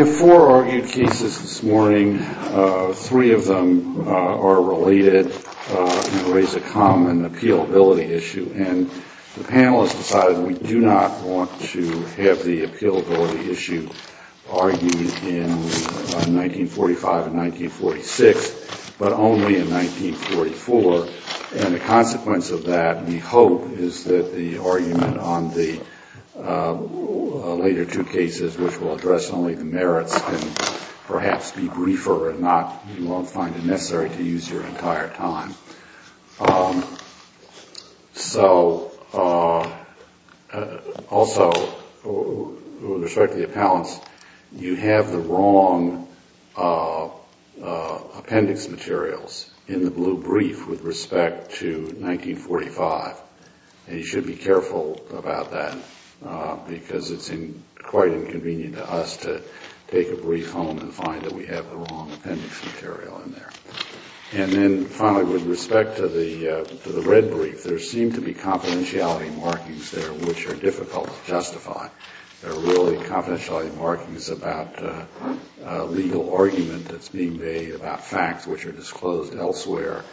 We have four argued cases this morning. Three of them are related and raise a common appealability issue. And the panelists decided we do not want to have the appealability issue argued in 1945 and 1946, but only in 1944. And the consequence of that, we hope, is that the argument on the later two cases, which will address only the merits, can perhaps be briefer and you won't find it necessary to use your entire time. Also, with respect to the appellants, you have the wrong appendix materials in the blue brief with respect to 1945. And you should be careful about that because it's quite inconvenient to us to take a brief home and find that we have the wrong appendix material in there. And then, finally, with respect to the red brief, there seem to be confidentiality markings there which are difficult to justify. They're really confidentiality markings about a legal argument that's being made about facts which are disclosed elsewhere,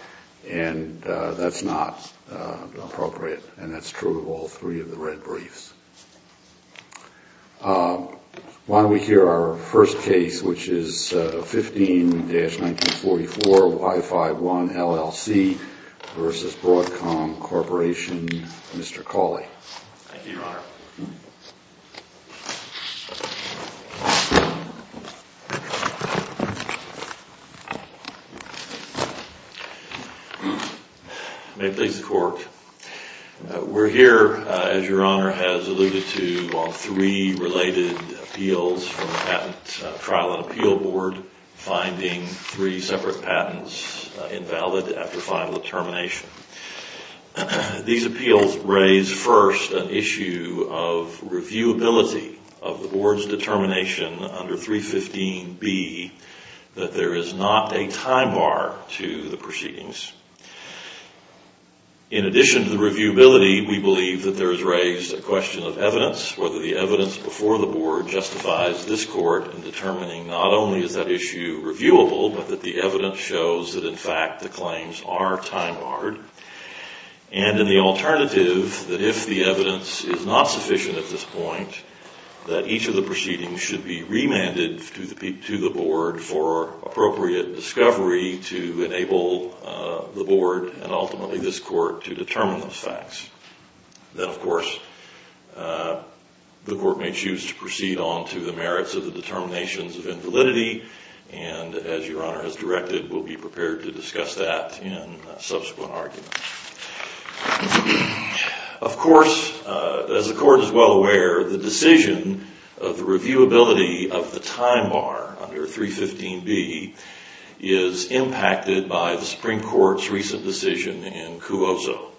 and that's not appropriate. And that's true of all three of the red briefs. Why don't we hear our first case, which is 15-1944, Y51, LLC, versus Broadcom Corporation, Mr. Cawley. May it please the Court, we're here, as Your Honor has alluded to, on three related appeals from the Patent Trial and Appeal Board, finding three separate patents invalid after final determination. These appeals raise first an issue of reviewability of the Board's determination under 315B that there is not a time bar to the proceedings. In addition to the reviewability, we believe that there is raised a question of evidence, whether the evidence before the Board justifies this Court in determining not only is that issue reviewable, but that the evidence shows that, in fact, the claims are time barred, and in the alternative, that if the evidence is not sufficient at this point, that each of the proceedings should be remanded to the Board for appropriate discovery to enable the Board, and ultimately this Court, to determine those facts. Then, of course, the Court may choose to proceed on to the merits of the determinations of invalidity, and as Your Honor has directed, we'll be prepared to discuss that in subsequent arguments. Of course, as the Court is well aware, the decision of the reviewability of the time bar under 315B is impacted by the Supreme Court's recent decision in Cuozo.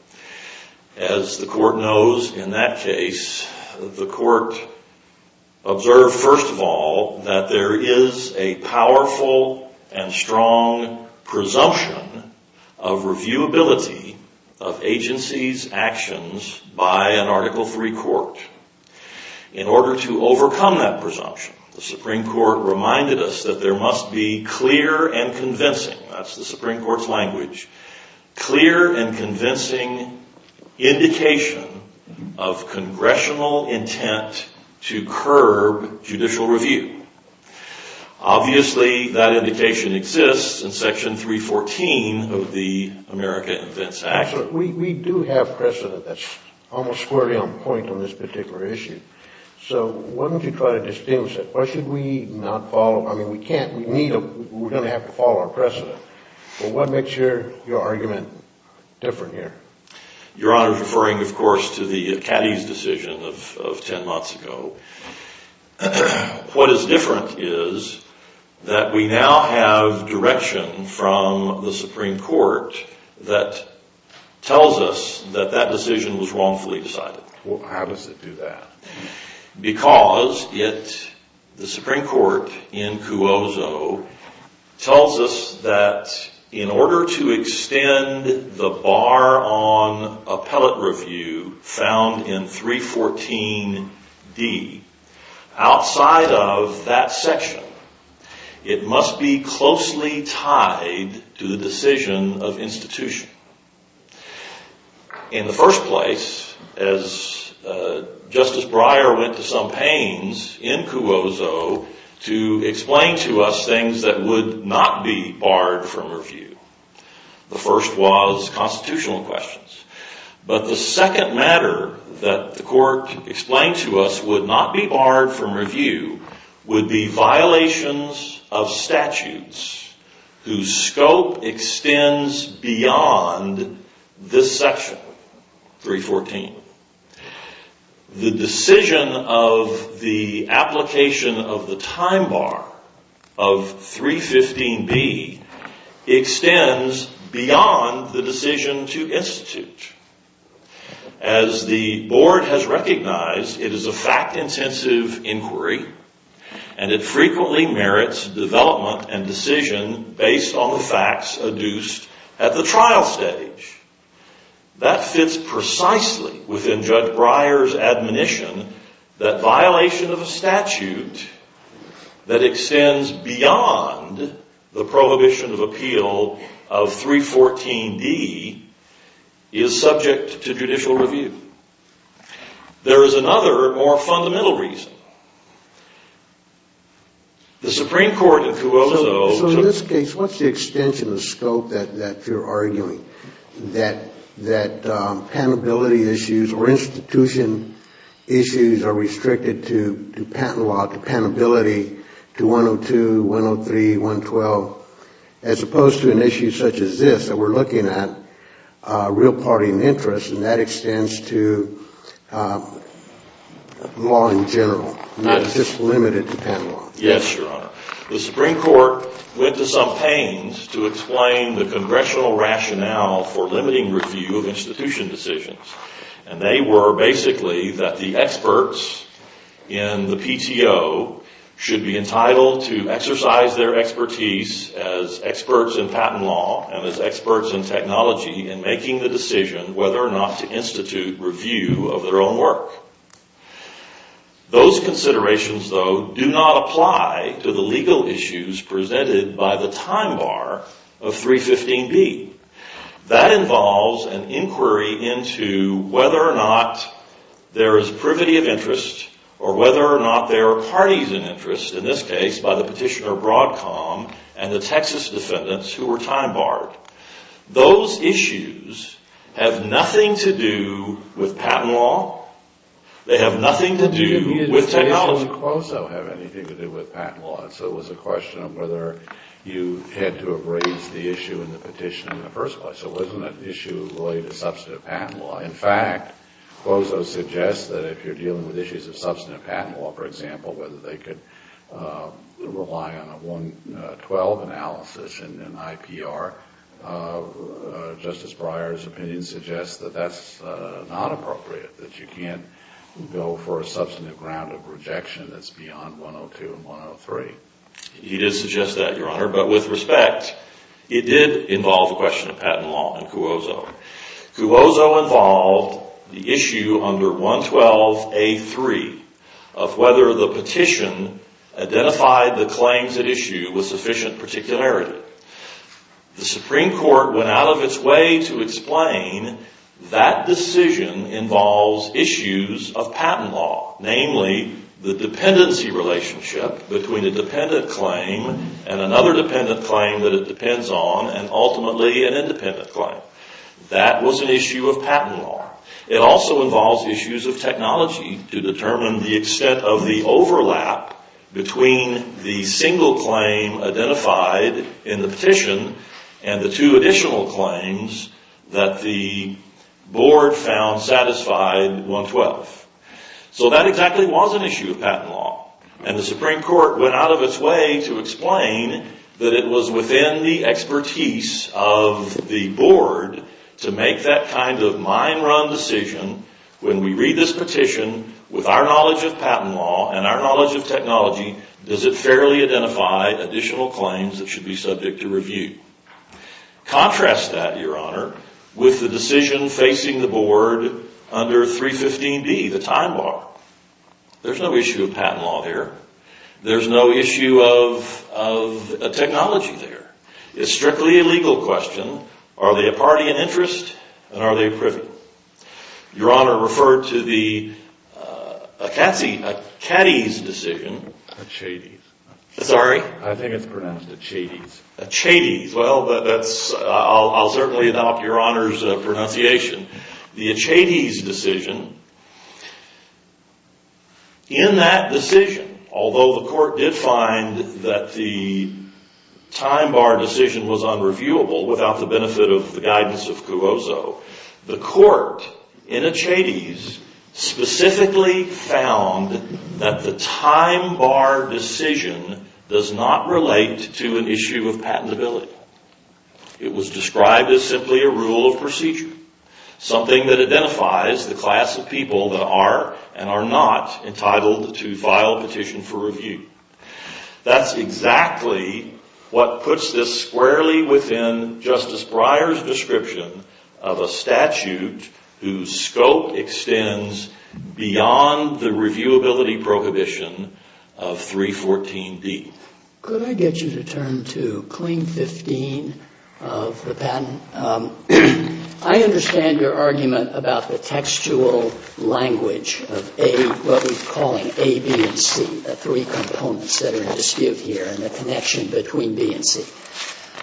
As the Court knows in that case, the Court observed, first of all, that there is a powerful and strong presumption of reviewability of agencies' actions by an Article III court. In order to overcome that presumption, the Supreme Court reminded us that there must be clear and convincing, that's the Supreme Court's language, clear and convincing indication of Congressional intent to curb judicial review. Obviously, that indication exists in Section 314 of the America Invents Act. We do have precedent that's almost squarely on point on this particular issue, so why don't you try to distinguish it? Why should we not follow, I mean, we can't, we need to, we're going to have to follow our precedent. Well, what makes your argument different here? Your Honor is referring, of course, to the Caddy's decision of 10 months ago. What is different is that we now have direction from the Supreme Court that tells us that that decision was wrongfully decided. How does it do that? Because it, the Supreme Court in Cuozo, tells us that in order to extend the bar on appellate review found in 314D, outside of that section, it must be closely tied to the decision of institution. In the first place, as Justice Breyer went to some pains in Cuozo to explain to us things that would not be barred from review. The first was constitutional questions. But the second matter that the court explained to us would not be barred from review would be violations of statutes whose scope extends beyond this section, 314. The decision of the application of the time bar of 315B extends beyond the decision to institute. As the board has recognized, it is a fact-intensive inquiry, and it frequently merits development and decision based on the facts adduced at the trial stage. That fits precisely within Judge Breyer's admonition that violation of a statute that extends beyond the prohibition of appeal of 314D is subject to judicial review. There is another more fundamental reason. The Supreme Court in Cuozo... So in this case, what's the extension of scope that you're arguing? That patentability issues or institution issues are restricted to patent law, to patentability, to 102, 103, 112, as opposed to an issue such as this that we're looking at, real party and interest, and that extends to law in general. It's just limited to patent law. Yes, Your Honor. The Supreme Court went to some pains to explain the congressional rationale for limiting review of institution decisions. And they were basically that the experts in the PTO should be entitled to exercise their expertise as experts in patent law and as experts in technology in making the decision whether or not to institute review of their own work. Those considerations, though, do not apply to the legal issues presented by the time bar of 315B. That involves an inquiry into whether or not there is privity of interest or whether or not there are parties in interest, in this case, by the petitioner Broadcom and the Texas defendants who were time barred. Those issues have nothing to do with patent law. They have nothing to do with technology. It didn't even say if it had anything to do with patent law. So it was a question of whether you had to have raised the issue in the petition in the first place. It wasn't an issue related to substantive patent law. In fact, Cuozo suggests that if you're dealing with issues of substantive patent law, for example, whether they could rely on a 112 analysis and an IPR, Justice Breyer's opinion suggests that that's not appropriate, that you can't go for a substantive ground of rejection that's beyond 102 and 103. He did suggest that, Your Honor. But with respect, it did involve a question of patent law in Cuozo. Cuozo involved the issue under 112A3 of whether the petition identified the claims at issue with sufficient particularity. The Supreme Court went out of its way to explain that decision involves issues of patent law, namely the dependency relationship between a dependent claim and another dependent claim that it depends on and ultimately an independent claim. That was an issue of patent law. It also involves issues of technology to determine the extent of the overlap between the single claim identified in the petition and the two additional claims that the board found satisfied 112. So that exactly was an issue of patent law. And the Supreme Court went out of its way to explain that it was within the expertise of the board to make that kind of mind-run decision. When we read this petition, with our knowledge of patent law and our knowledge of technology, does it fairly identify additional claims that should be subject to review? Contrast that, Your Honor, with the decision facing the board under 315B, the time bar. There's no issue of patent law there. There's no issue of technology there. It's strictly a legal question. Are they a party in interest? And are they a privy? Your Honor referred to the Achates decision. Achates. Sorry? I think it's pronounced Achates. Achates. Well, I'll certainly adopt Your Honor's pronunciation. The Achates decision, in that decision, although the court did find that the time bar decision was unreviewable without the benefit of the guidance of Cuozzo, the court in Achates specifically found that the time bar decision does not relate to an issue of patentability. It was described as simply a rule of procedure, something that identifies the class of people that are and are not entitled to file a petition for review. That's exactly what puts this squarely within Justice Breyer's description of a statute whose scope extends beyond the reviewability prohibition of 314B. Could I get you to turn to Cling 15 of the patent? I understand your argument about the textual language of what we're calling A, B, and C, the three components that are in dispute here and the connection between B and C.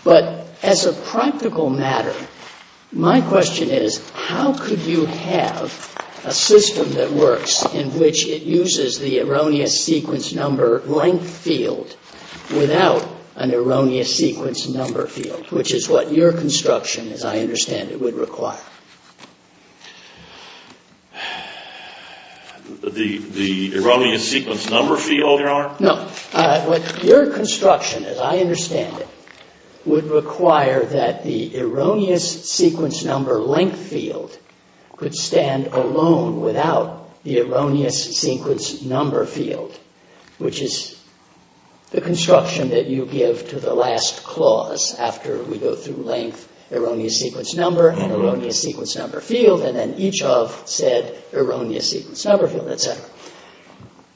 But as a practical matter, my question is how could you have a system that works in which it uses the erroneous sequence number length field without an erroneous sequence number field, which is what your construction, as I understand it, would require? The erroneous sequence number field, Your Honor? Your construction, as I understand it, would require that the erroneous sequence number length field could stand alone without the erroneous sequence number field, which is the construction that you give to the last clause after we go through length, erroneous sequence number, and erroneous sequence number field, and then each of said erroneous sequence number field, et cetera.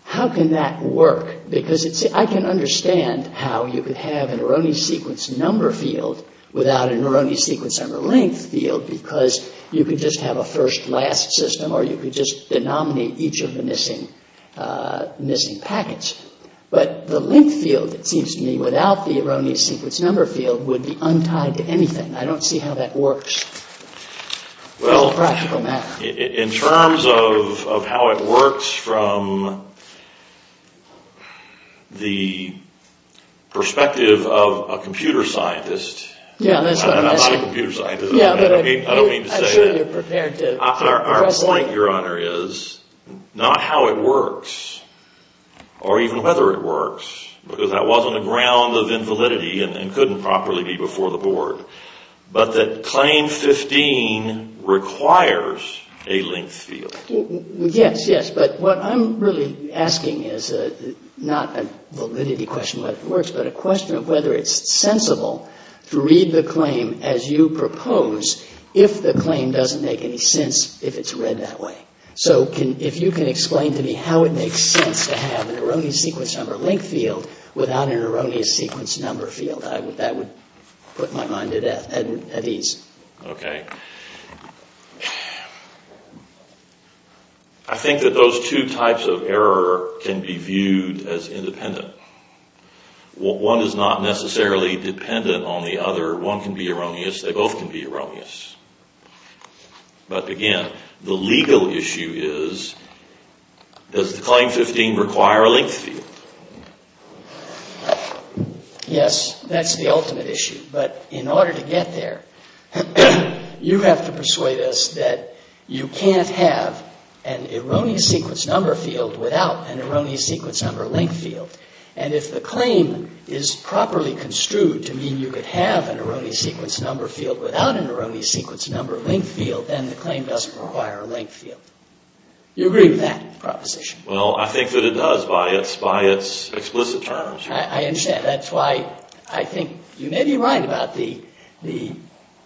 How can that work? Because I can understand how you could have an erroneous sequence number field without an erroneous sequence number length field because you could just have a first-last system or you could just denominate each of the missing packets. But the length field, it seems to me, without the erroneous sequence number field would be untied to anything. I don't see how that works as a practical matter. In terms of how it works from the perspective of a computer scientist, and I'm not a computer scientist. I don't mean to say that. I'm sure you're prepared to. Our point, Your Honor, is not how it works or even whether it works, because that wasn't a ground of invalidity and couldn't properly be before the board, but that Claim 15 requires a length field. Yes, yes. But what I'm really asking is not a validity question whether it works, but a question of whether it's sensible to read the claim as you propose if the claim doesn't make any sense if it's read that way. So if you can explain to me how it makes sense to have an erroneous sequence number length field without an erroneous sequence number field, that would put my mind at ease. Okay. I think that those two types of error can be viewed as independent. One is not necessarily dependent on the other. One can be erroneous. They both can be erroneous. But, again, the legal issue is does the Claim 15 require a length field? Yes, that's the ultimate issue. But in order to get there, you have to persuade us that you can't have an erroneous sequence number field without an erroneous sequence number length field. And if the claim is properly construed to mean you could have an erroneous sequence number field without an erroneous sequence number length field, then the claim doesn't require a length field. Do you agree with that proposition? Well, I think that it does by its explicit terms. I understand. That's why I think you may be right about the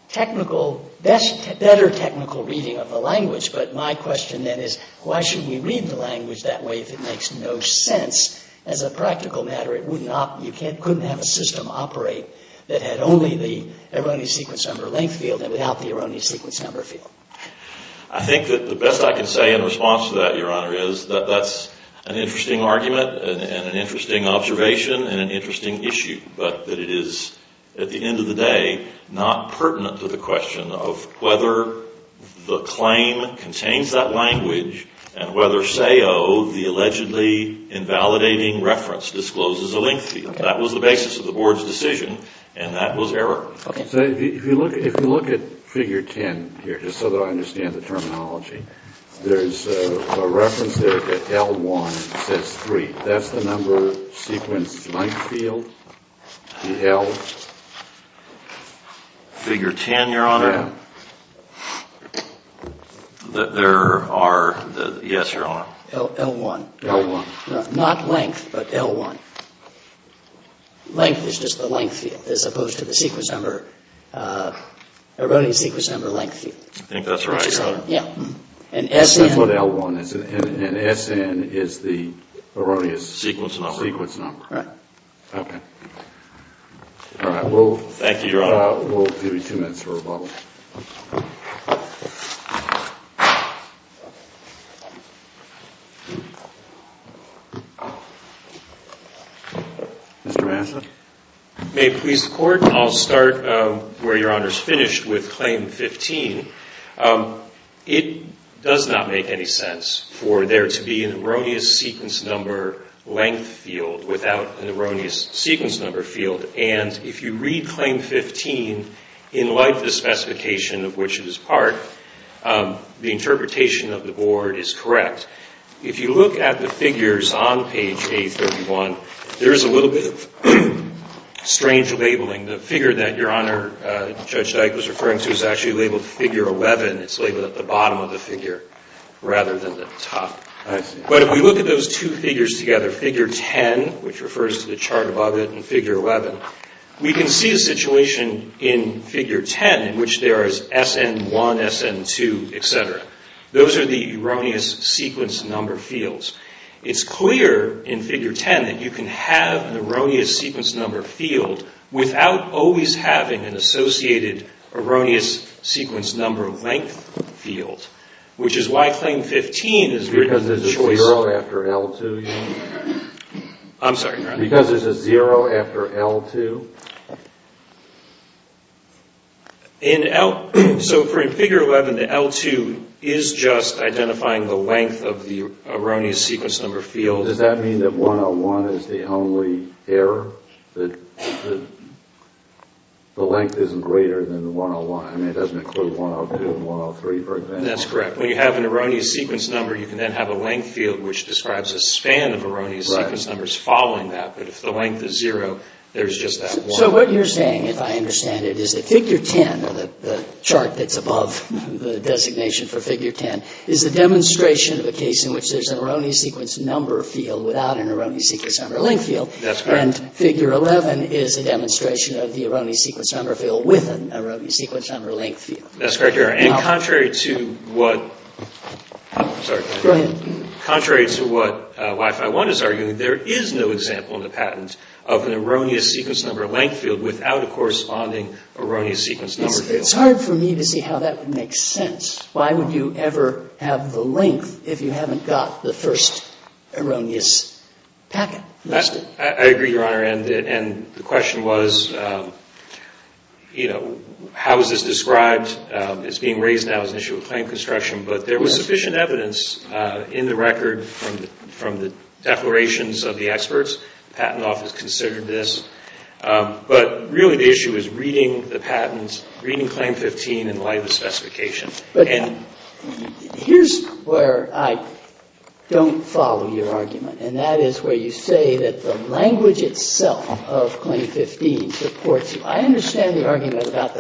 technical, better technical reading of the language. But my question, then, is why should we read the language that way if it makes no sense? As a practical matter, you couldn't have a system operate that had only the erroneous sequence number length field and without the erroneous sequence number field. I think that the best I can say in response to that, Your Honor, is that that's an interesting argument and an interesting observation and an interesting issue, but that it is, at the end of the day, not pertinent to the question of whether the claim contains that language and whether SAO, the allegedly invalidating reference, discloses a length field. That was the basis of the Board's decision, and that was error. So if you look at Figure 10 here, just so that I understand the terminology, there's a reference there that L1 says 3. That's the number sequence length field? The L? Figure 10, Your Honor? Yes, Your Honor. L1. L1. Not length, but L1. Length is just the length field as opposed to the sequence number, erroneous sequence number length field. I think that's right, Your Honor. Yeah. And SN? That's what L1 is. And SN is the erroneous sequence number. Sequence number. Right. Okay. All right. Thank you, Your Honor. We'll give you two minutes for rebuttal. Mr. Matheson? May it please the Court, I'll start where Your Honor's finished with Claim 15. It does not make any sense for there to be an erroneous sequence number length field without an erroneous sequence number field. And if you read Claim 15, in light of the specification of which it is part, the interpretation of the Board is correct. If you look at the figures on page A31, there is a little bit of strange labeling. The figure that Your Honor, Judge Dyke, was referring to is actually labeled figure 11. It's labeled at the bottom of the figure rather than the top. I see. But if we look at those two figures together, figure 10, which refers to the chart above it, and figure 11, we can see a situation in figure 10 in which there is SN1, SN2, et cetera. Those are the erroneous sequence number fields. It's clear in figure 10 that you can have an erroneous sequence number field without always having an associated erroneous sequence number length field, which is why Claim 15 is written as a choice... Because there's a zero after L2, Your Honor? I'm sorry, Your Honor? Because there's a zero after L2? So for figure 11, the L2 is just identifying the length of the erroneous sequence number field. Does that mean that 101 is the only error, that the length isn't greater than 101? I mean, it doesn't include 102 and 103, for example. That's correct. When you have an erroneous sequence number, you can then have a length field, which describes a span of erroneous sequence numbers following that. But if the length is zero, there's just that one. So what you're saying, if I understand it, is that figure 10, the chart that's above the designation for figure 10, is a demonstration of a case in which there's an erroneous sequence number field without an erroneous sequence number length field. That's correct. And figure 11 is a demonstration of the erroneous sequence number field with an erroneous sequence number length field. That's correct, Your Honor. And contrary to what Wi-Fi One is arguing, there is no example in the patent of an erroneous sequence number length field without a corresponding erroneous sequence number field. It's hard for me to see how that would make sense. Why would you ever have the length if you haven't got the first erroneous packet? I agree, Your Honor. And the question was, you know, how is this described? It's being raised now as an issue of claim construction. But there was sufficient evidence in the record from the declarations of the experts. The Patent Office considered this. But really the issue is reading the patents, reading Claim 15 in light of the specification. But here's where I don't follow your argument, and that is where you say that the language itself of Claim 15 supports you. I understand the argument about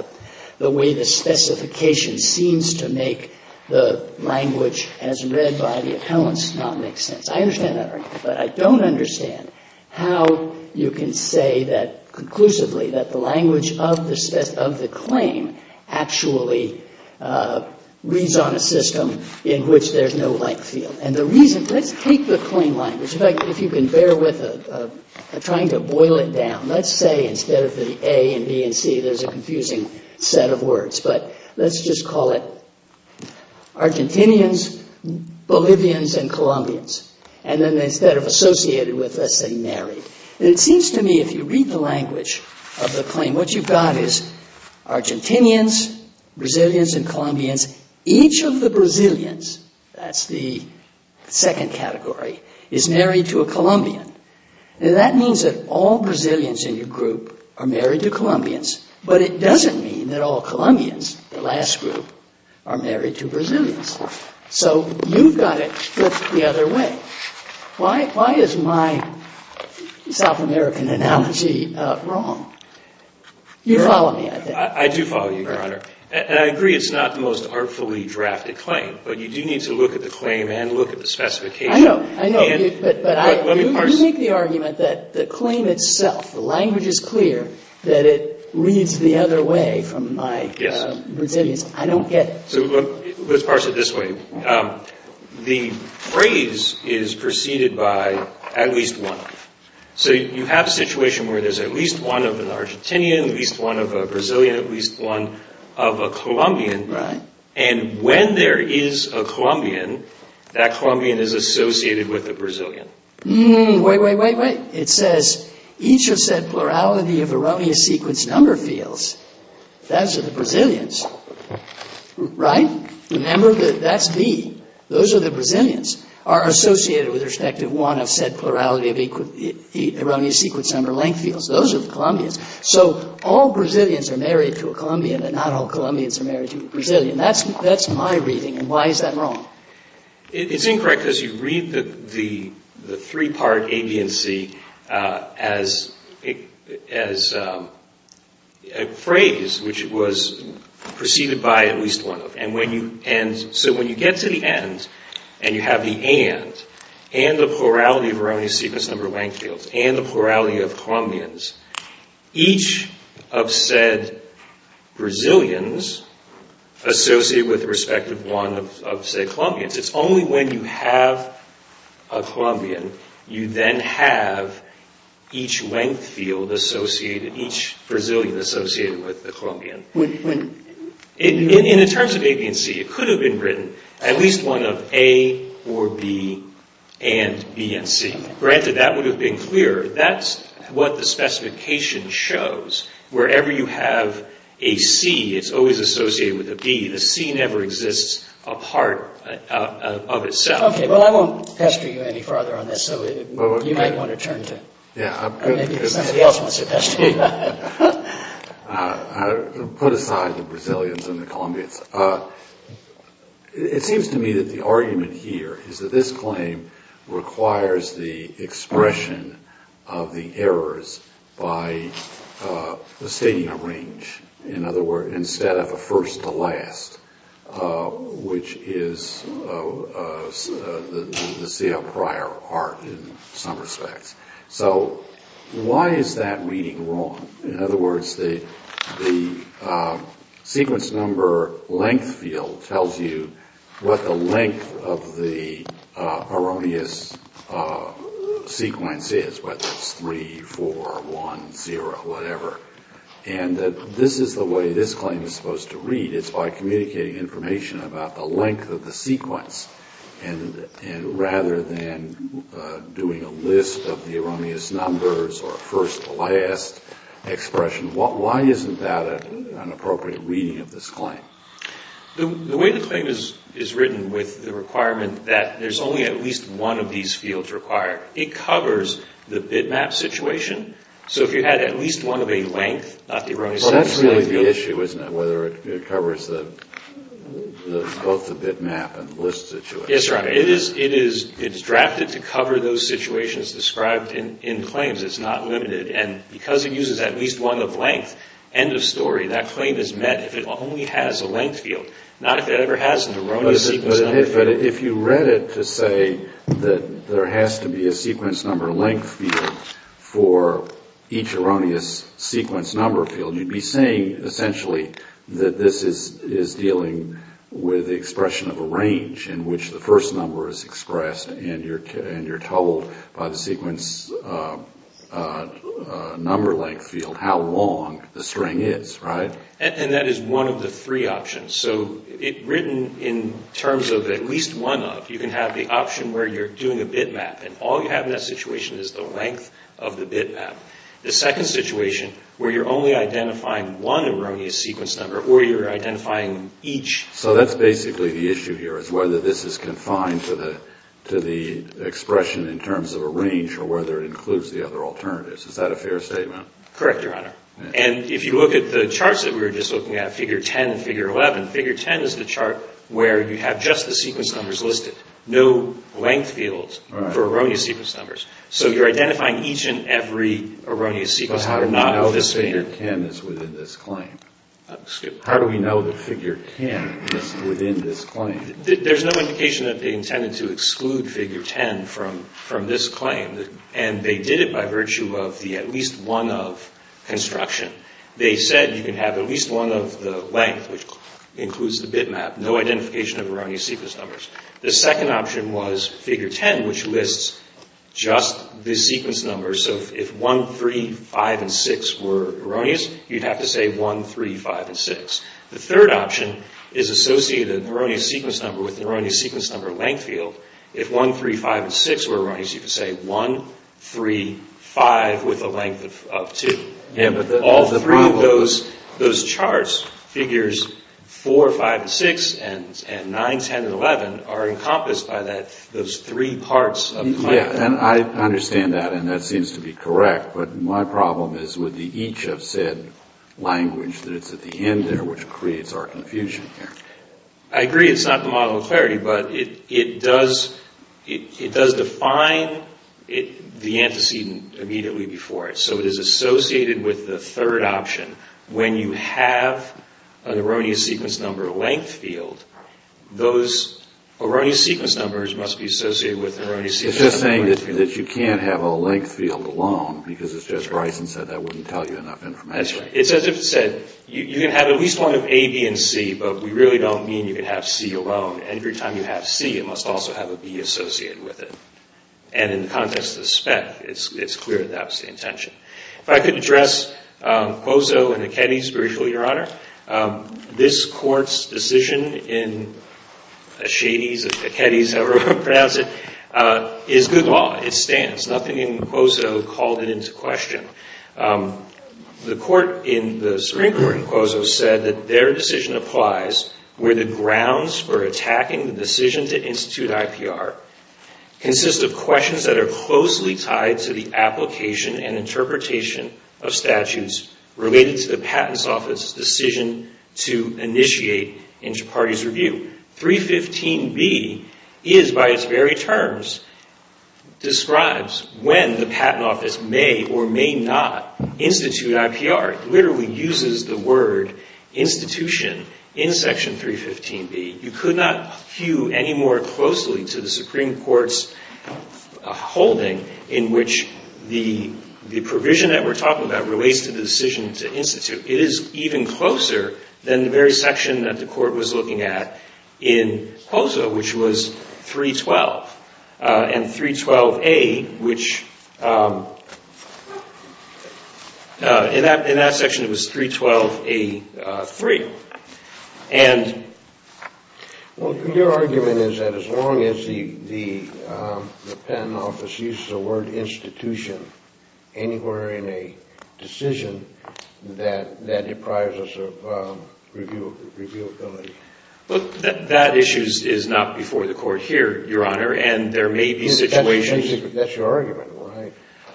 the way the specification seems to make the language as read by the appellants not make sense. I understand that argument. But I don't understand how you can say that conclusively that the language of the claim actually reads on a system in which there's no length field. And the reason, let's take the claim language. In fact, if you can bear with trying to boil it down, let's say instead of the A and B and C, there's a confusing set of words. But let's just call it Argentinians, Bolivians, and Colombians. And then instead of associated with, let's say married. And it seems to me if you read the language of the claim, what you've got is Argentinians, Brazilians, and Colombians. Each of the Brazilians, that's the second category, is married to a Colombian. And that means that all Brazilians in your group are married to Colombians. But it doesn't mean that all Colombians, the last group, are married to Brazilians. So you've got it flipped the other way. Why is my South American analogy wrong? You follow me, I think. I do follow you, Your Honor. And I agree it's not the most artfully drafted claim. But you do need to look at the claim and look at the specification. I know. I know. But I do make the argument that the claim itself, the language is clear, that it reads the other way from my Brazilians. I don't get it. So let's parse it this way. The phrase is preceded by at least one. So you have a situation where there's at least one of an Argentinian, at least one of a Brazilian, at least one of a Colombian. Right. And when there is a Colombian, that Colombian is associated with a Brazilian. Wait, wait, wait, wait. It says, each of said plurality of erroneous sequence number fields, those are the Brazilians. Right? Remember, that's B. Those are the Brazilians, are associated with respective one of said plurality of erroneous sequence number length fields. Those are the Colombians. So all Brazilians are married to a Colombian, but not all Colombians are married to a Brazilian. That's my reading. And why is that wrong? It's incorrect because you read the three-part A, B, and C as a phrase, which was preceded by at least one of. And so when you get to the end, and you have the and, and the plurality of erroneous sequence number length fields, and the plurality of Colombians, each of said Brazilians associated with the respective one of said Colombians. It's only when you have a Colombian, you then have each length field associated, each Brazilian associated with the Colombian. In the terms of A, B, and C, it could have been written at least one of A or B and B and C. Granted, that would have been clear. That's what the specification shows. Wherever you have a C, it's always associated with a B. The C never exists apart of itself. Okay. Well, I won't pester you any further on this, so you might want to turn to it. Yeah. Or maybe somebody else wants to pester you. Put aside the Brazilians and the Colombians. It seems to me that the argument here is that this claim requires the expression of the errors by stating a range. In other words, instead of a first to last, which is the prior art in some respects. So why is that reading wrong? In other words, the sequence number length field tells you what the length of the erroneous sequence is, whether it's 3, 4, 1, 0, whatever. And this is the way this claim is supposed to read. It's by communicating information about the length of the sequence. And rather than doing a list of the erroneous numbers or a first to last expression, why isn't that an appropriate reading of this claim? The way the claim is written with the requirement that there's only at least one of these fields required, it covers the bitmap situation. So if you had at least one of a length, not the erroneous number. Well, that's really the issue, isn't it? Whether it covers both the bitmap and list situation. Yes, sir. It is drafted to cover those situations described in claims. It's not limited. And because it uses at least one of length, end of story, that claim is met if it only has a length field. Not if it ever has an erroneous sequence number field. But if you read it to say that there has to be a sequence number length field for each erroneous sequence number field, you'd be saying, essentially, that this is dealing with the expression of a range in which the first number is expressed. And you're told by the sequence number length field how long the string is, right? And that is one of the three options. So written in terms of at least one of, you can have the option where you're doing a bitmap, and all you have in that situation is the length of the bitmap. The second situation where you're only identifying one erroneous sequence number or you're identifying each. So that's basically the issue here is whether this is confined to the expression in terms of a range or whether it includes the other alternatives. Is that a fair statement? Correct, Your Honor. And if you look at the charts that we were just looking at, figure 10 and figure 11, figure 10 is the chart where you have just the sequence numbers listed. No length fields for erroneous sequence numbers. So you're identifying each and every erroneous sequence number. But how do we know that figure 10 is within this claim? Excuse me? How do we know that figure 10 is within this claim? There's no indication that they intended to exclude figure 10 from this claim. And they did it by virtue of the at least one of construction. They said you can have at least one of the length, which includes the bitmap, no identification of erroneous sequence numbers. The second option was figure 10, which lists just the sequence numbers. So if 1, 3, 5, and 6 were erroneous, you'd have to say 1, 3, 5, and 6. The third option is associated with an erroneous sequence number with an erroneous sequence number length field. If 1, 3, 5, and 6 were erroneous, you could say 1, 3, 5, with a length of 2. All three of those charts, figures 4, 5, and 6, and 9, 10, and 11, are encompassed by those three parts of the claim. Yeah, and I understand that, and that seems to be correct. But my problem is with the each of said language that it's at the end there, which creates our confusion here. I agree it's not the model of clarity, but it does define the antecedent immediately before it. So it is associated with the third option. When you have an erroneous sequence number length field, those erroneous sequence numbers must be associated with an erroneous sequence number length field. It's just saying that you can't have a length field alone, because as Judge Bryson said, that wouldn't tell you enough information. That's right. It's as if it said, you can have at least one of A, B, and C, but we really don't mean you can have C alone. And every time you have C, it must also have a B associated with it. And in the context of the spec, it's clear that that was the intention. If I could address Quozo and Aketi's version, Your Honor. This court's decision in Ashady's, Aketi's, however you pronounce it, is good law. It stands. Nothing in Quozo called it into question. The court in the Supreme Court in Quozo said that their decision applies where the grounds for attacking the decision to institute IPR consist of questions that are closely tied to the application and interpretation of statutes related to the Patent Office's decision to initiate inter-parties review. 315B is, by its very terms, describes when the Patent Office may or may not institute IPR. It literally uses the word institution in Section 315B. You could not hew any more closely to the Supreme Court's holding in which the provision that we're talking about relates to the decision to institute. It is even closer than the very section that the court was looking at in Quozo, which was 312, and 312A, which in that section it was 312A3. And... Well, your argument is that as long as the Patent Office uses the word institution anywhere in a decision that deprives us of reviewability. That issue is not before the court here, Your Honor, and there may be situations... That's your argument, right.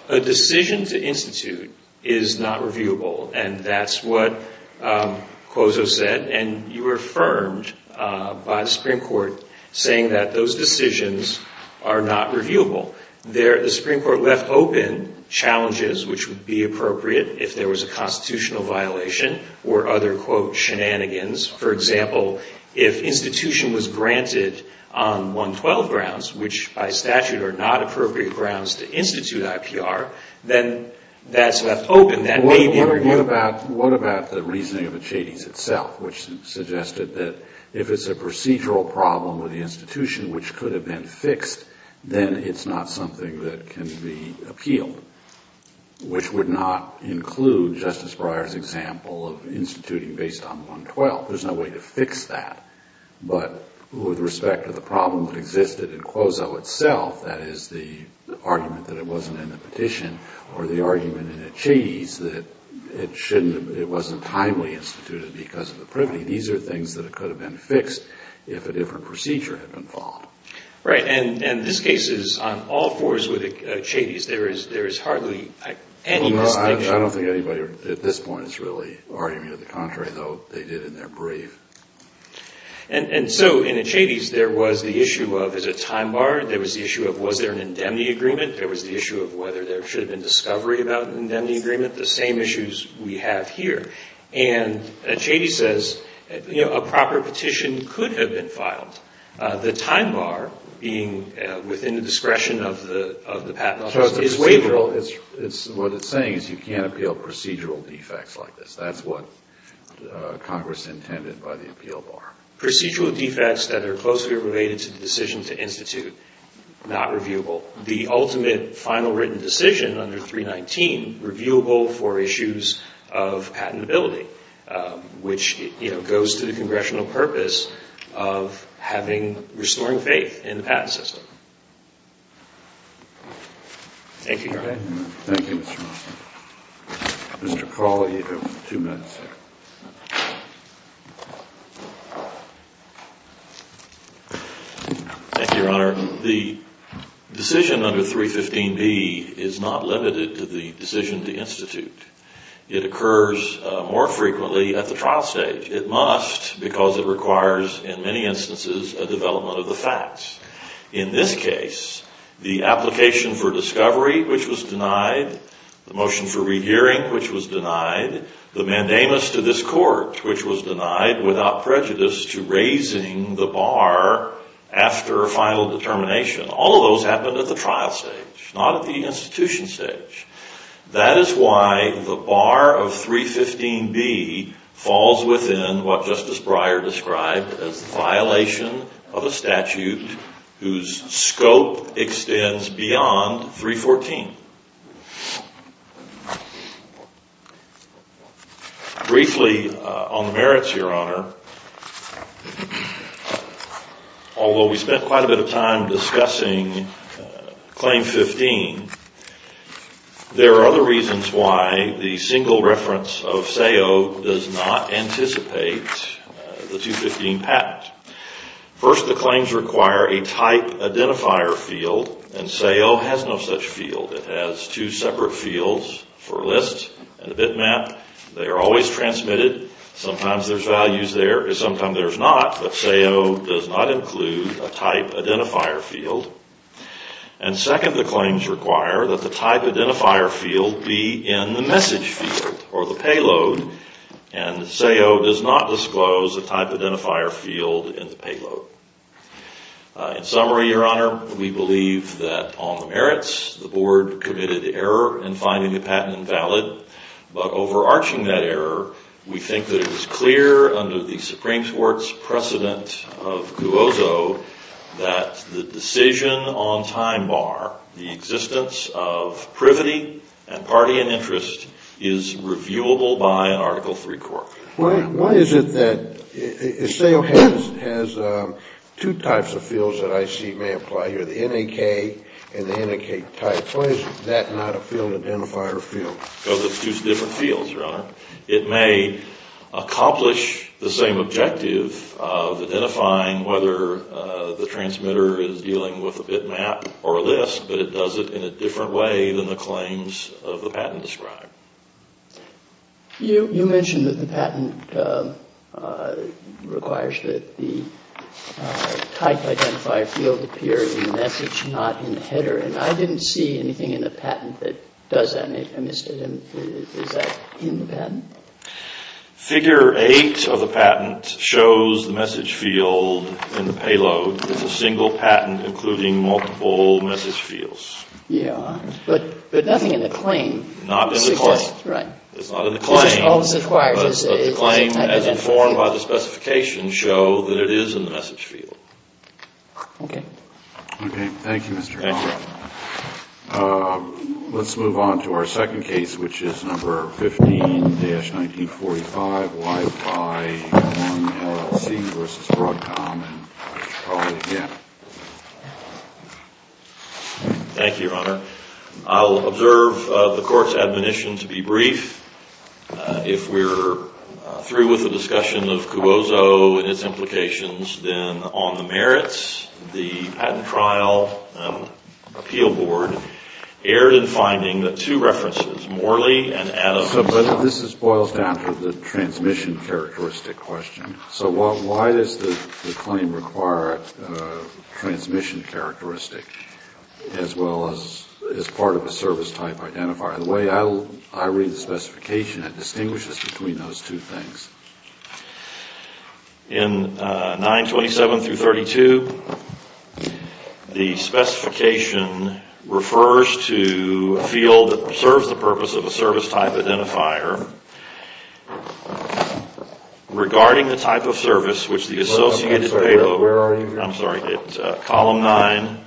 A decision to institute is not reviewable, and that's what Quozo said. And you were affirmed by the Supreme Court saying that those decisions are not reviewable. The Supreme Court left open challenges which would be appropriate if there was a constitutional violation or other, quote, shenanigans. For example, if institution was granted on 112 grounds, which by statute are not appropriate grounds to institute IPR, then that's left open. What about the reasoning of Achetes itself, which suggested that if it's a procedural problem with the institution which could have been fixed, then it's not something that can be appealed, which would not include Justice Breyer's example of instituting based on 112. There's no way to fix that. But with respect to the problem that existed in Quozo itself, that is the argument that it wasn't in the petition or the argument in Achetes that it wasn't timely instituted because of the privity, these are things that could have been fixed if a different procedure had been followed. Right. And this case is on all fours with Achetes. There is hardly any distinction. I don't think anybody at this point is really arguing to the contrary, though they did in their brief. And so in Achetes, there was the issue of is it time barred? There was the issue of was there an indemnity agreement? There was the issue of whether there should have been discovery about an indemnity agreement, the same issues we have here. And Achetes says, you know, a proper petition could have been filed. The time bar being within the discretion of the patent office is waiverable. What it's saying is you can't appeal procedural defects like this. That's what Congress intended by the appeal bar. Procedural defects that are closely related to the decision to institute, not reviewable. The ultimate final written decision under 319, reviewable for issues of patentability, which goes to the congressional purpose of restoring faith in the patent system. Thank you, Your Honor. Thank you, Mr. Hoffman. Mr. Crawley, you have two minutes. Thank you, Your Honor. The decision under 315B is not limited to the decision to institute. It occurs more frequently at the trial stage. It must because it requires, in many instances, a development of the facts. In this case, the application for discovery, which was denied, the motion for rehearing, which was denied, the mandamus to this court, which was denied without prejudice to raising the bar after a final determination. All of those happened at the trial stage, not at the institution stage. That is why the bar of 315B falls within what Justice Breyer described as the violation of a statute whose scope extends beyond 314. Briefly on the merits, Your Honor, although we spent quite a bit of time discussing claim 15, there are other reasons why the single reference of SAO does not anticipate the 215 patent. First, the claims require a type identifier field, and SAO has no such field. It has two separate fields for lists and a bitmap. They are always transmitted. Sometimes there's values there, and sometimes there's not, but SAO does not include a type identifier field. And second, the claims require that the type identifier field be in the message field or the payload, and SAO does not disclose a type identifier field in the payload. In summary, Your Honor, we believe that on the merits, the board committed error in finding the patent invalid, but overarching that error, we think that it was clear under the Supreme Court's precedent of Cuozo that the decision on time bar, the existence of privity and party and interest, is reviewable by an Article III court. Why is it that SAO has two types of fields that I see may apply here, the NAK and the NAK type? Why is that not a field identifier field? It may accomplish the same objective of identifying whether the transmitter is dealing with a bitmap or a list, but it does it in a different way than the claims of the patent describe. You mentioned that the patent requires that the type identifier field appear in the message, not in the header, and I didn't see anything in the patent that does that. I missed it. Is that in the patent? Figure 8 of the patent shows the message field in the payload is a single patent including multiple message fields. Yeah. But nothing in the claim. Not in the claim. Right. It's not in the claim, but the claim as informed by the specification show that it is in the message field. Okay. Okay. Thank you, Mr. Long. Thank you. Let's move on to our second case, which is number 15-1945, Y5-1 LLC v. Broadcom, and I'll call you again. Thank you, Your Honor. I'll observe the Court's admonition to be brief. If we're through with the discussion of CUOSO and its implications, then on the merits, the Patent Trial Appeal Board erred in finding that two references, Morley and Adams. But this boils down to the transmission characteristic question. So why does the claim require a transmission characteristic as well as part of a service type identifier? The way I read the specification, it distinguishes between those two things. In 927-32, the specification refers to a field that serves the purpose of a service type identifier. Regarding the type of service, which the Associated paid over, I'm sorry, Column 9,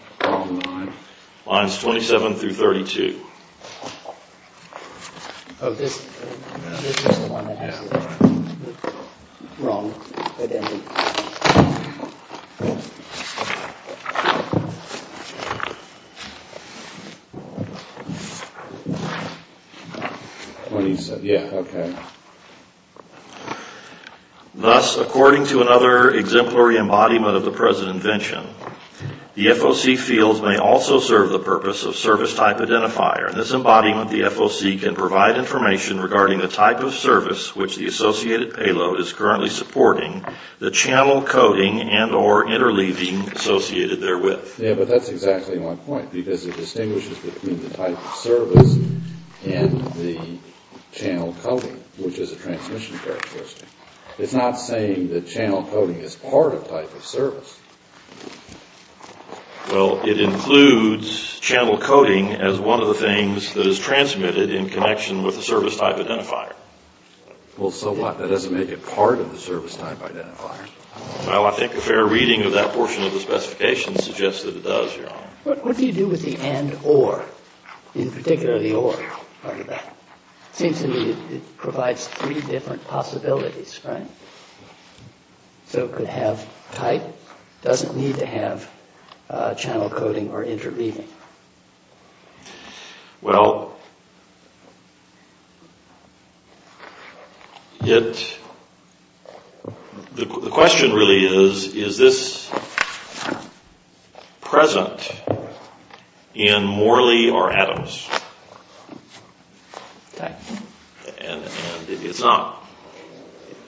lines 27-32. Oh, this is the one I have. Wrong. It ended. 27, yeah, okay. Thus, according to another exemplary embodiment of the present invention, the FOC fields may also serve the purpose of service type identifier. In this embodiment, the FOC can provide information regarding the type of service, which the Associated payload is currently supporting, the channel coding and or interleaving associated therewith. Yeah, but that's exactly my point, because it distinguishes between the type of service and the channel coding, which is a transmission characteristic. It's not saying that channel coding is part of type of service. Well, it includes channel coding as one of the things that is transmitted in connection with a service type identifier. Well, so what? That doesn't make it part of the service type identifier. Well, I think a fair reading of that portion of the specification suggests that it does, Your Honor. What do you do with the and or, in particular the or? Seems to me it provides three different possibilities, right? So it could have type, doesn't need to have channel coding or interleaving. Well, the question really is, is this present in Morley or Adams? Type. And it's not.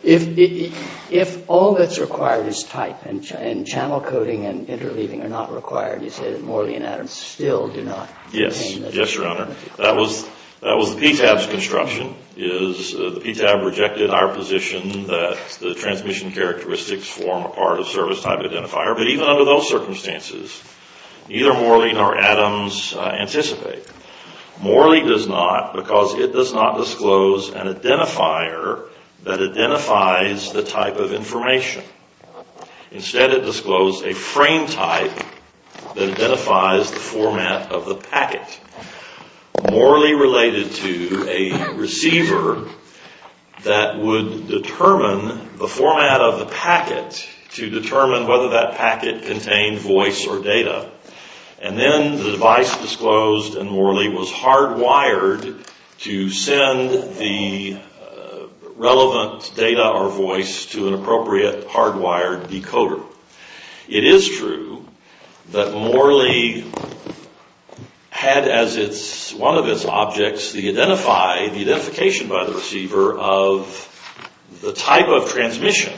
If all that's required is type and channel coding and interleaving are not required, you say that Morley and Adams still do not? Yes. Yes, Your Honor. That was the PTAB's construction, is the PTAB rejected our position that the transmission characteristics form a part of service type identifier. But even under those circumstances, neither Morley nor Adams anticipate. Morley does not because it does not disclose an identifier that identifies the type of information. Instead, it disclosed a frame type that identifies the format of the packet. Morley related to a receiver that would determine the format of the packet to determine whether that packet contained voice or data. And then the device disclosed in Morley was hardwired to send the relevant data or voice to an appropriate hardwired decoder. It is true that Morley had as one of its objects the identification by the receiver of the type of transmission.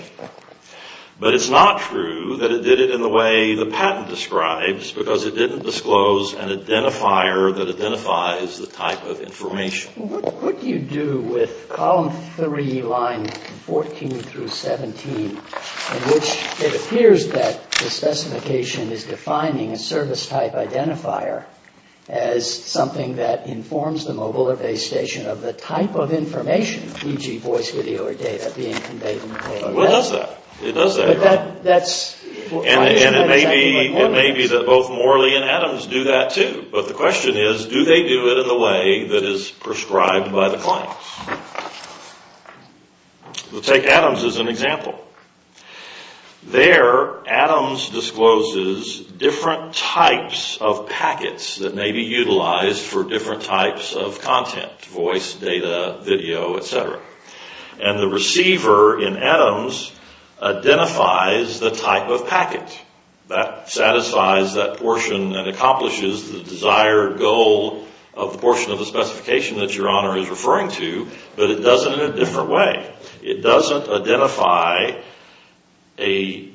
But it's not true that it did it in the way the patent describes because it didn't disclose an identifier that identifies the type of information. What do you do with column three, line 14 through 17, in which it appears that the specification is defining a service type identifier as something that informs the mobile or base station of the type of information, e.g. voice, video, or data being conveyed? Well, it does that. And it may be that both Morley and Adams do that, too. But the question is, do they do it in the way that is prescribed by the claims? We'll take Adams as an example. There, Adams discloses different types of packets that may be utilized for different types of content, voice, data, video, etc. And the receiver in Adams identifies the type of packet that satisfies that portion and accomplishes the desired goal of the portion of the specification that Your Honor is referring to. But it does it in a different way. It doesn't have an identifier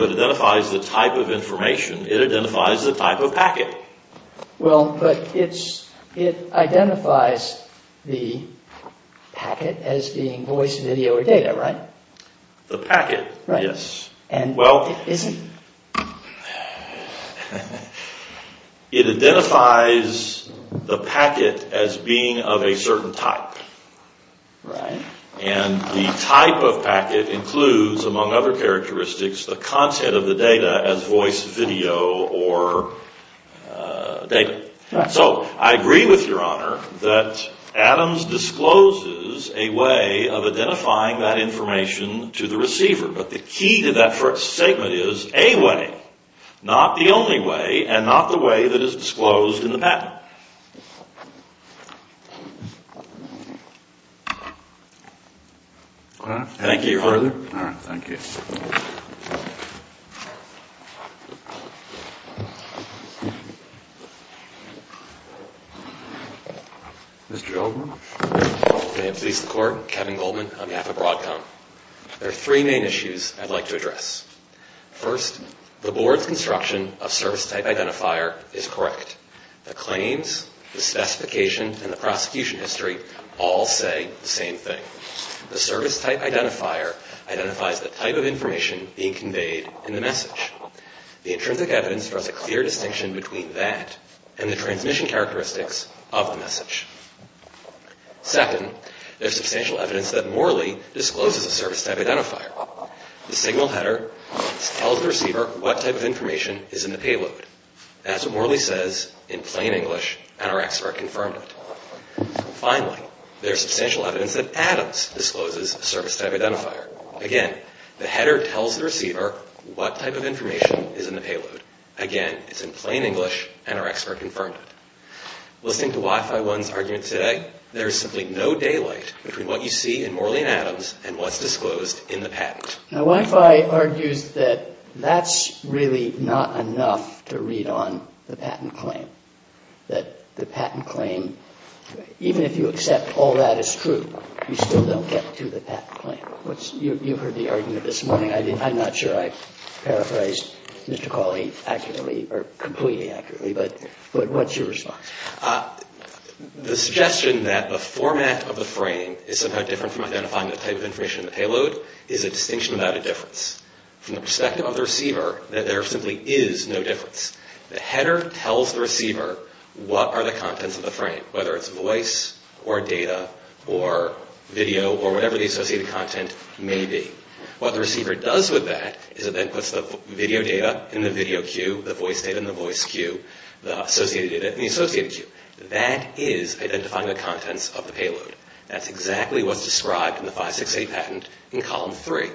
that identifies the type of information. It identifies the type of packet. Well, but it identifies the packet as being voice, video, or data, right? The packet, yes. And it isn't? It identifies the packet as being of a certain type. And the type of packet includes, among other characteristics, the content of the data as voice, video, or data. So I agree with Your Honor that Adams discloses a way of identifying that information to the receiver. But the key to that first statement is a way, not the only way, and not the way that is disclosed in the patent. All right. Thank you, Your Honor. Any further? All right. Thank you. Mr. Goldman? May it please the Court, Kevin Goldman on behalf of Broadcom. There are three main issues I'd like to address. First, the Board's construction of service type identifier is correct. The claims, the specification, and the prosecution history all say the same thing. The service type identifier identifies the type of information being conveyed in the message. The intrinsic evidence draws a clear distinction between that and the transmission characteristics of the message. Second, there's substantial evidence that Morley discloses a service type identifier. The signal header tells the receiver what type of information is in the payload. That's what Morley says in plain English, and our expert confirmed it. Finally, there's substantial evidence that Adams discloses a service type identifier. Again, the header tells the receiver what type of information is in the payload. Again, it's in plain English, and our expert confirmed it. Listening to Wi-Fi One's argument today, there is simply no daylight between what you see in Morley and Adams and what's disclosed in the patent. Now, Wi-Fi argues that that's really not enough to read on the patent claim. That the patent claim, even if you accept all that is true, you still don't get to the patent claim. You've heard the argument this morning. I'm not sure I paraphrased Mr. Cawley accurately or completely accurately, but what's your response? The suggestion that the format of the frame is somehow different from identifying the type of information in the payload is a distinction without a difference. From the perspective of the receiver, that there simply is no difference. The header tells the receiver what are the contents of the frame, whether it's voice or data or video or whatever the associated content may be. What the receiver does with that is it then puts the video data in the video queue, the voice data in the voice queue, the associated data in the associated queue. That is identifying the contents of the payload. That's exactly what's described in the 568 patent in column three.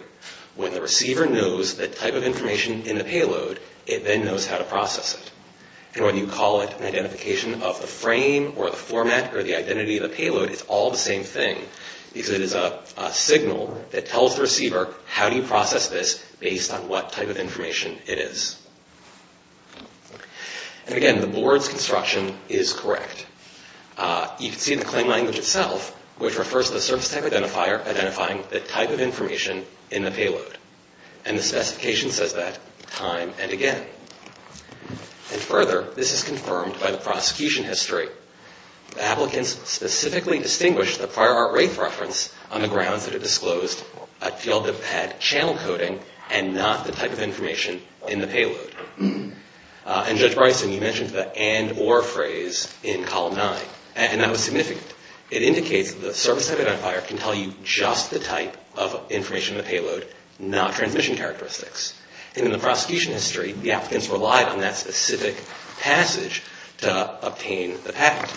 When the receiver knows the type of information in the payload, it then knows how to process it. And when you call it an identification of the frame or the format or the identity of the payload, it's all the same thing. Because it is a signal that tells the receiver how do you process this based on what type of information it is. And again, the board's construction is correct. You can see the claim language itself, which refers to the service type identifier identifying the type of information in the payload. And the specification says that time and again. And further, this is confirmed by the prosecution history. Applicants specifically distinguished the Fire Art Wraith reference on the grounds that it disclosed a field that had channel coding and not the type of information in the payload. And Judge Bryson, you mentioned the and or phrase in column nine. And that was significant. It indicates that the service type identifier can tell you just the type of information in the payload, not transmission characteristics. And in the prosecution history, the applicants relied on that specific passage to obtain the patent.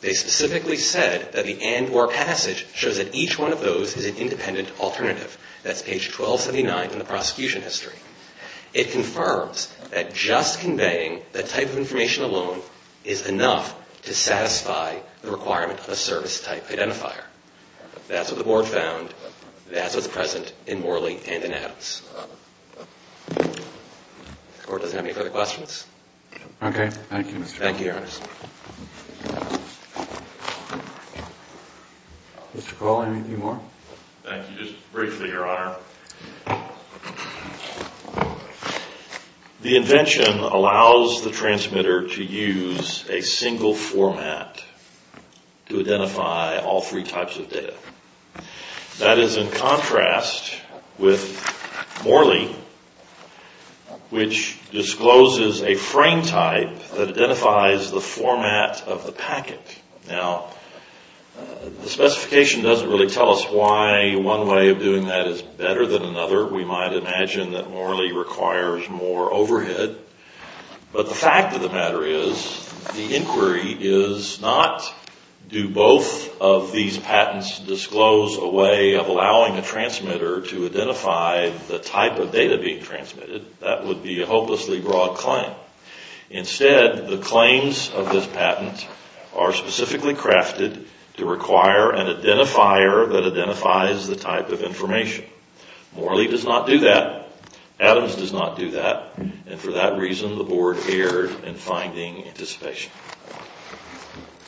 They specifically said that the and or passage shows that each one of those is an independent alternative. That's page 1279 in the prosecution history. It confirms that just conveying that type of information alone is enough to satisfy the requirement of a service type identifier. That's what the board found. That's what's present in Morley and in Adams. The court doesn't have any further questions. Thank you, Mr. Cole. Thank you, Your Honor. Mr. Cole, anything more? Thank you. Just briefly, Your Honor. The invention allows the transmitter to use a single format to identify all three types of data. That is in contrast with Morley, which discloses a frame type that identifies the format of the packet. Now, the specification doesn't really tell us why one way of doing that is better than another. We might imagine that Morley requires more overhead. But the fact of the matter is the inquiry is not do both of these patents disclose a way of allowing a transmitter to identify the type of data being transmitted. That would be a hopelessly broad claim. Instead, the claims of this patent are specifically crafted to require an identifier that identifies the type of information. Morley does not do that. Adams does not do that. And for that reason, the board erred in finding anticipation.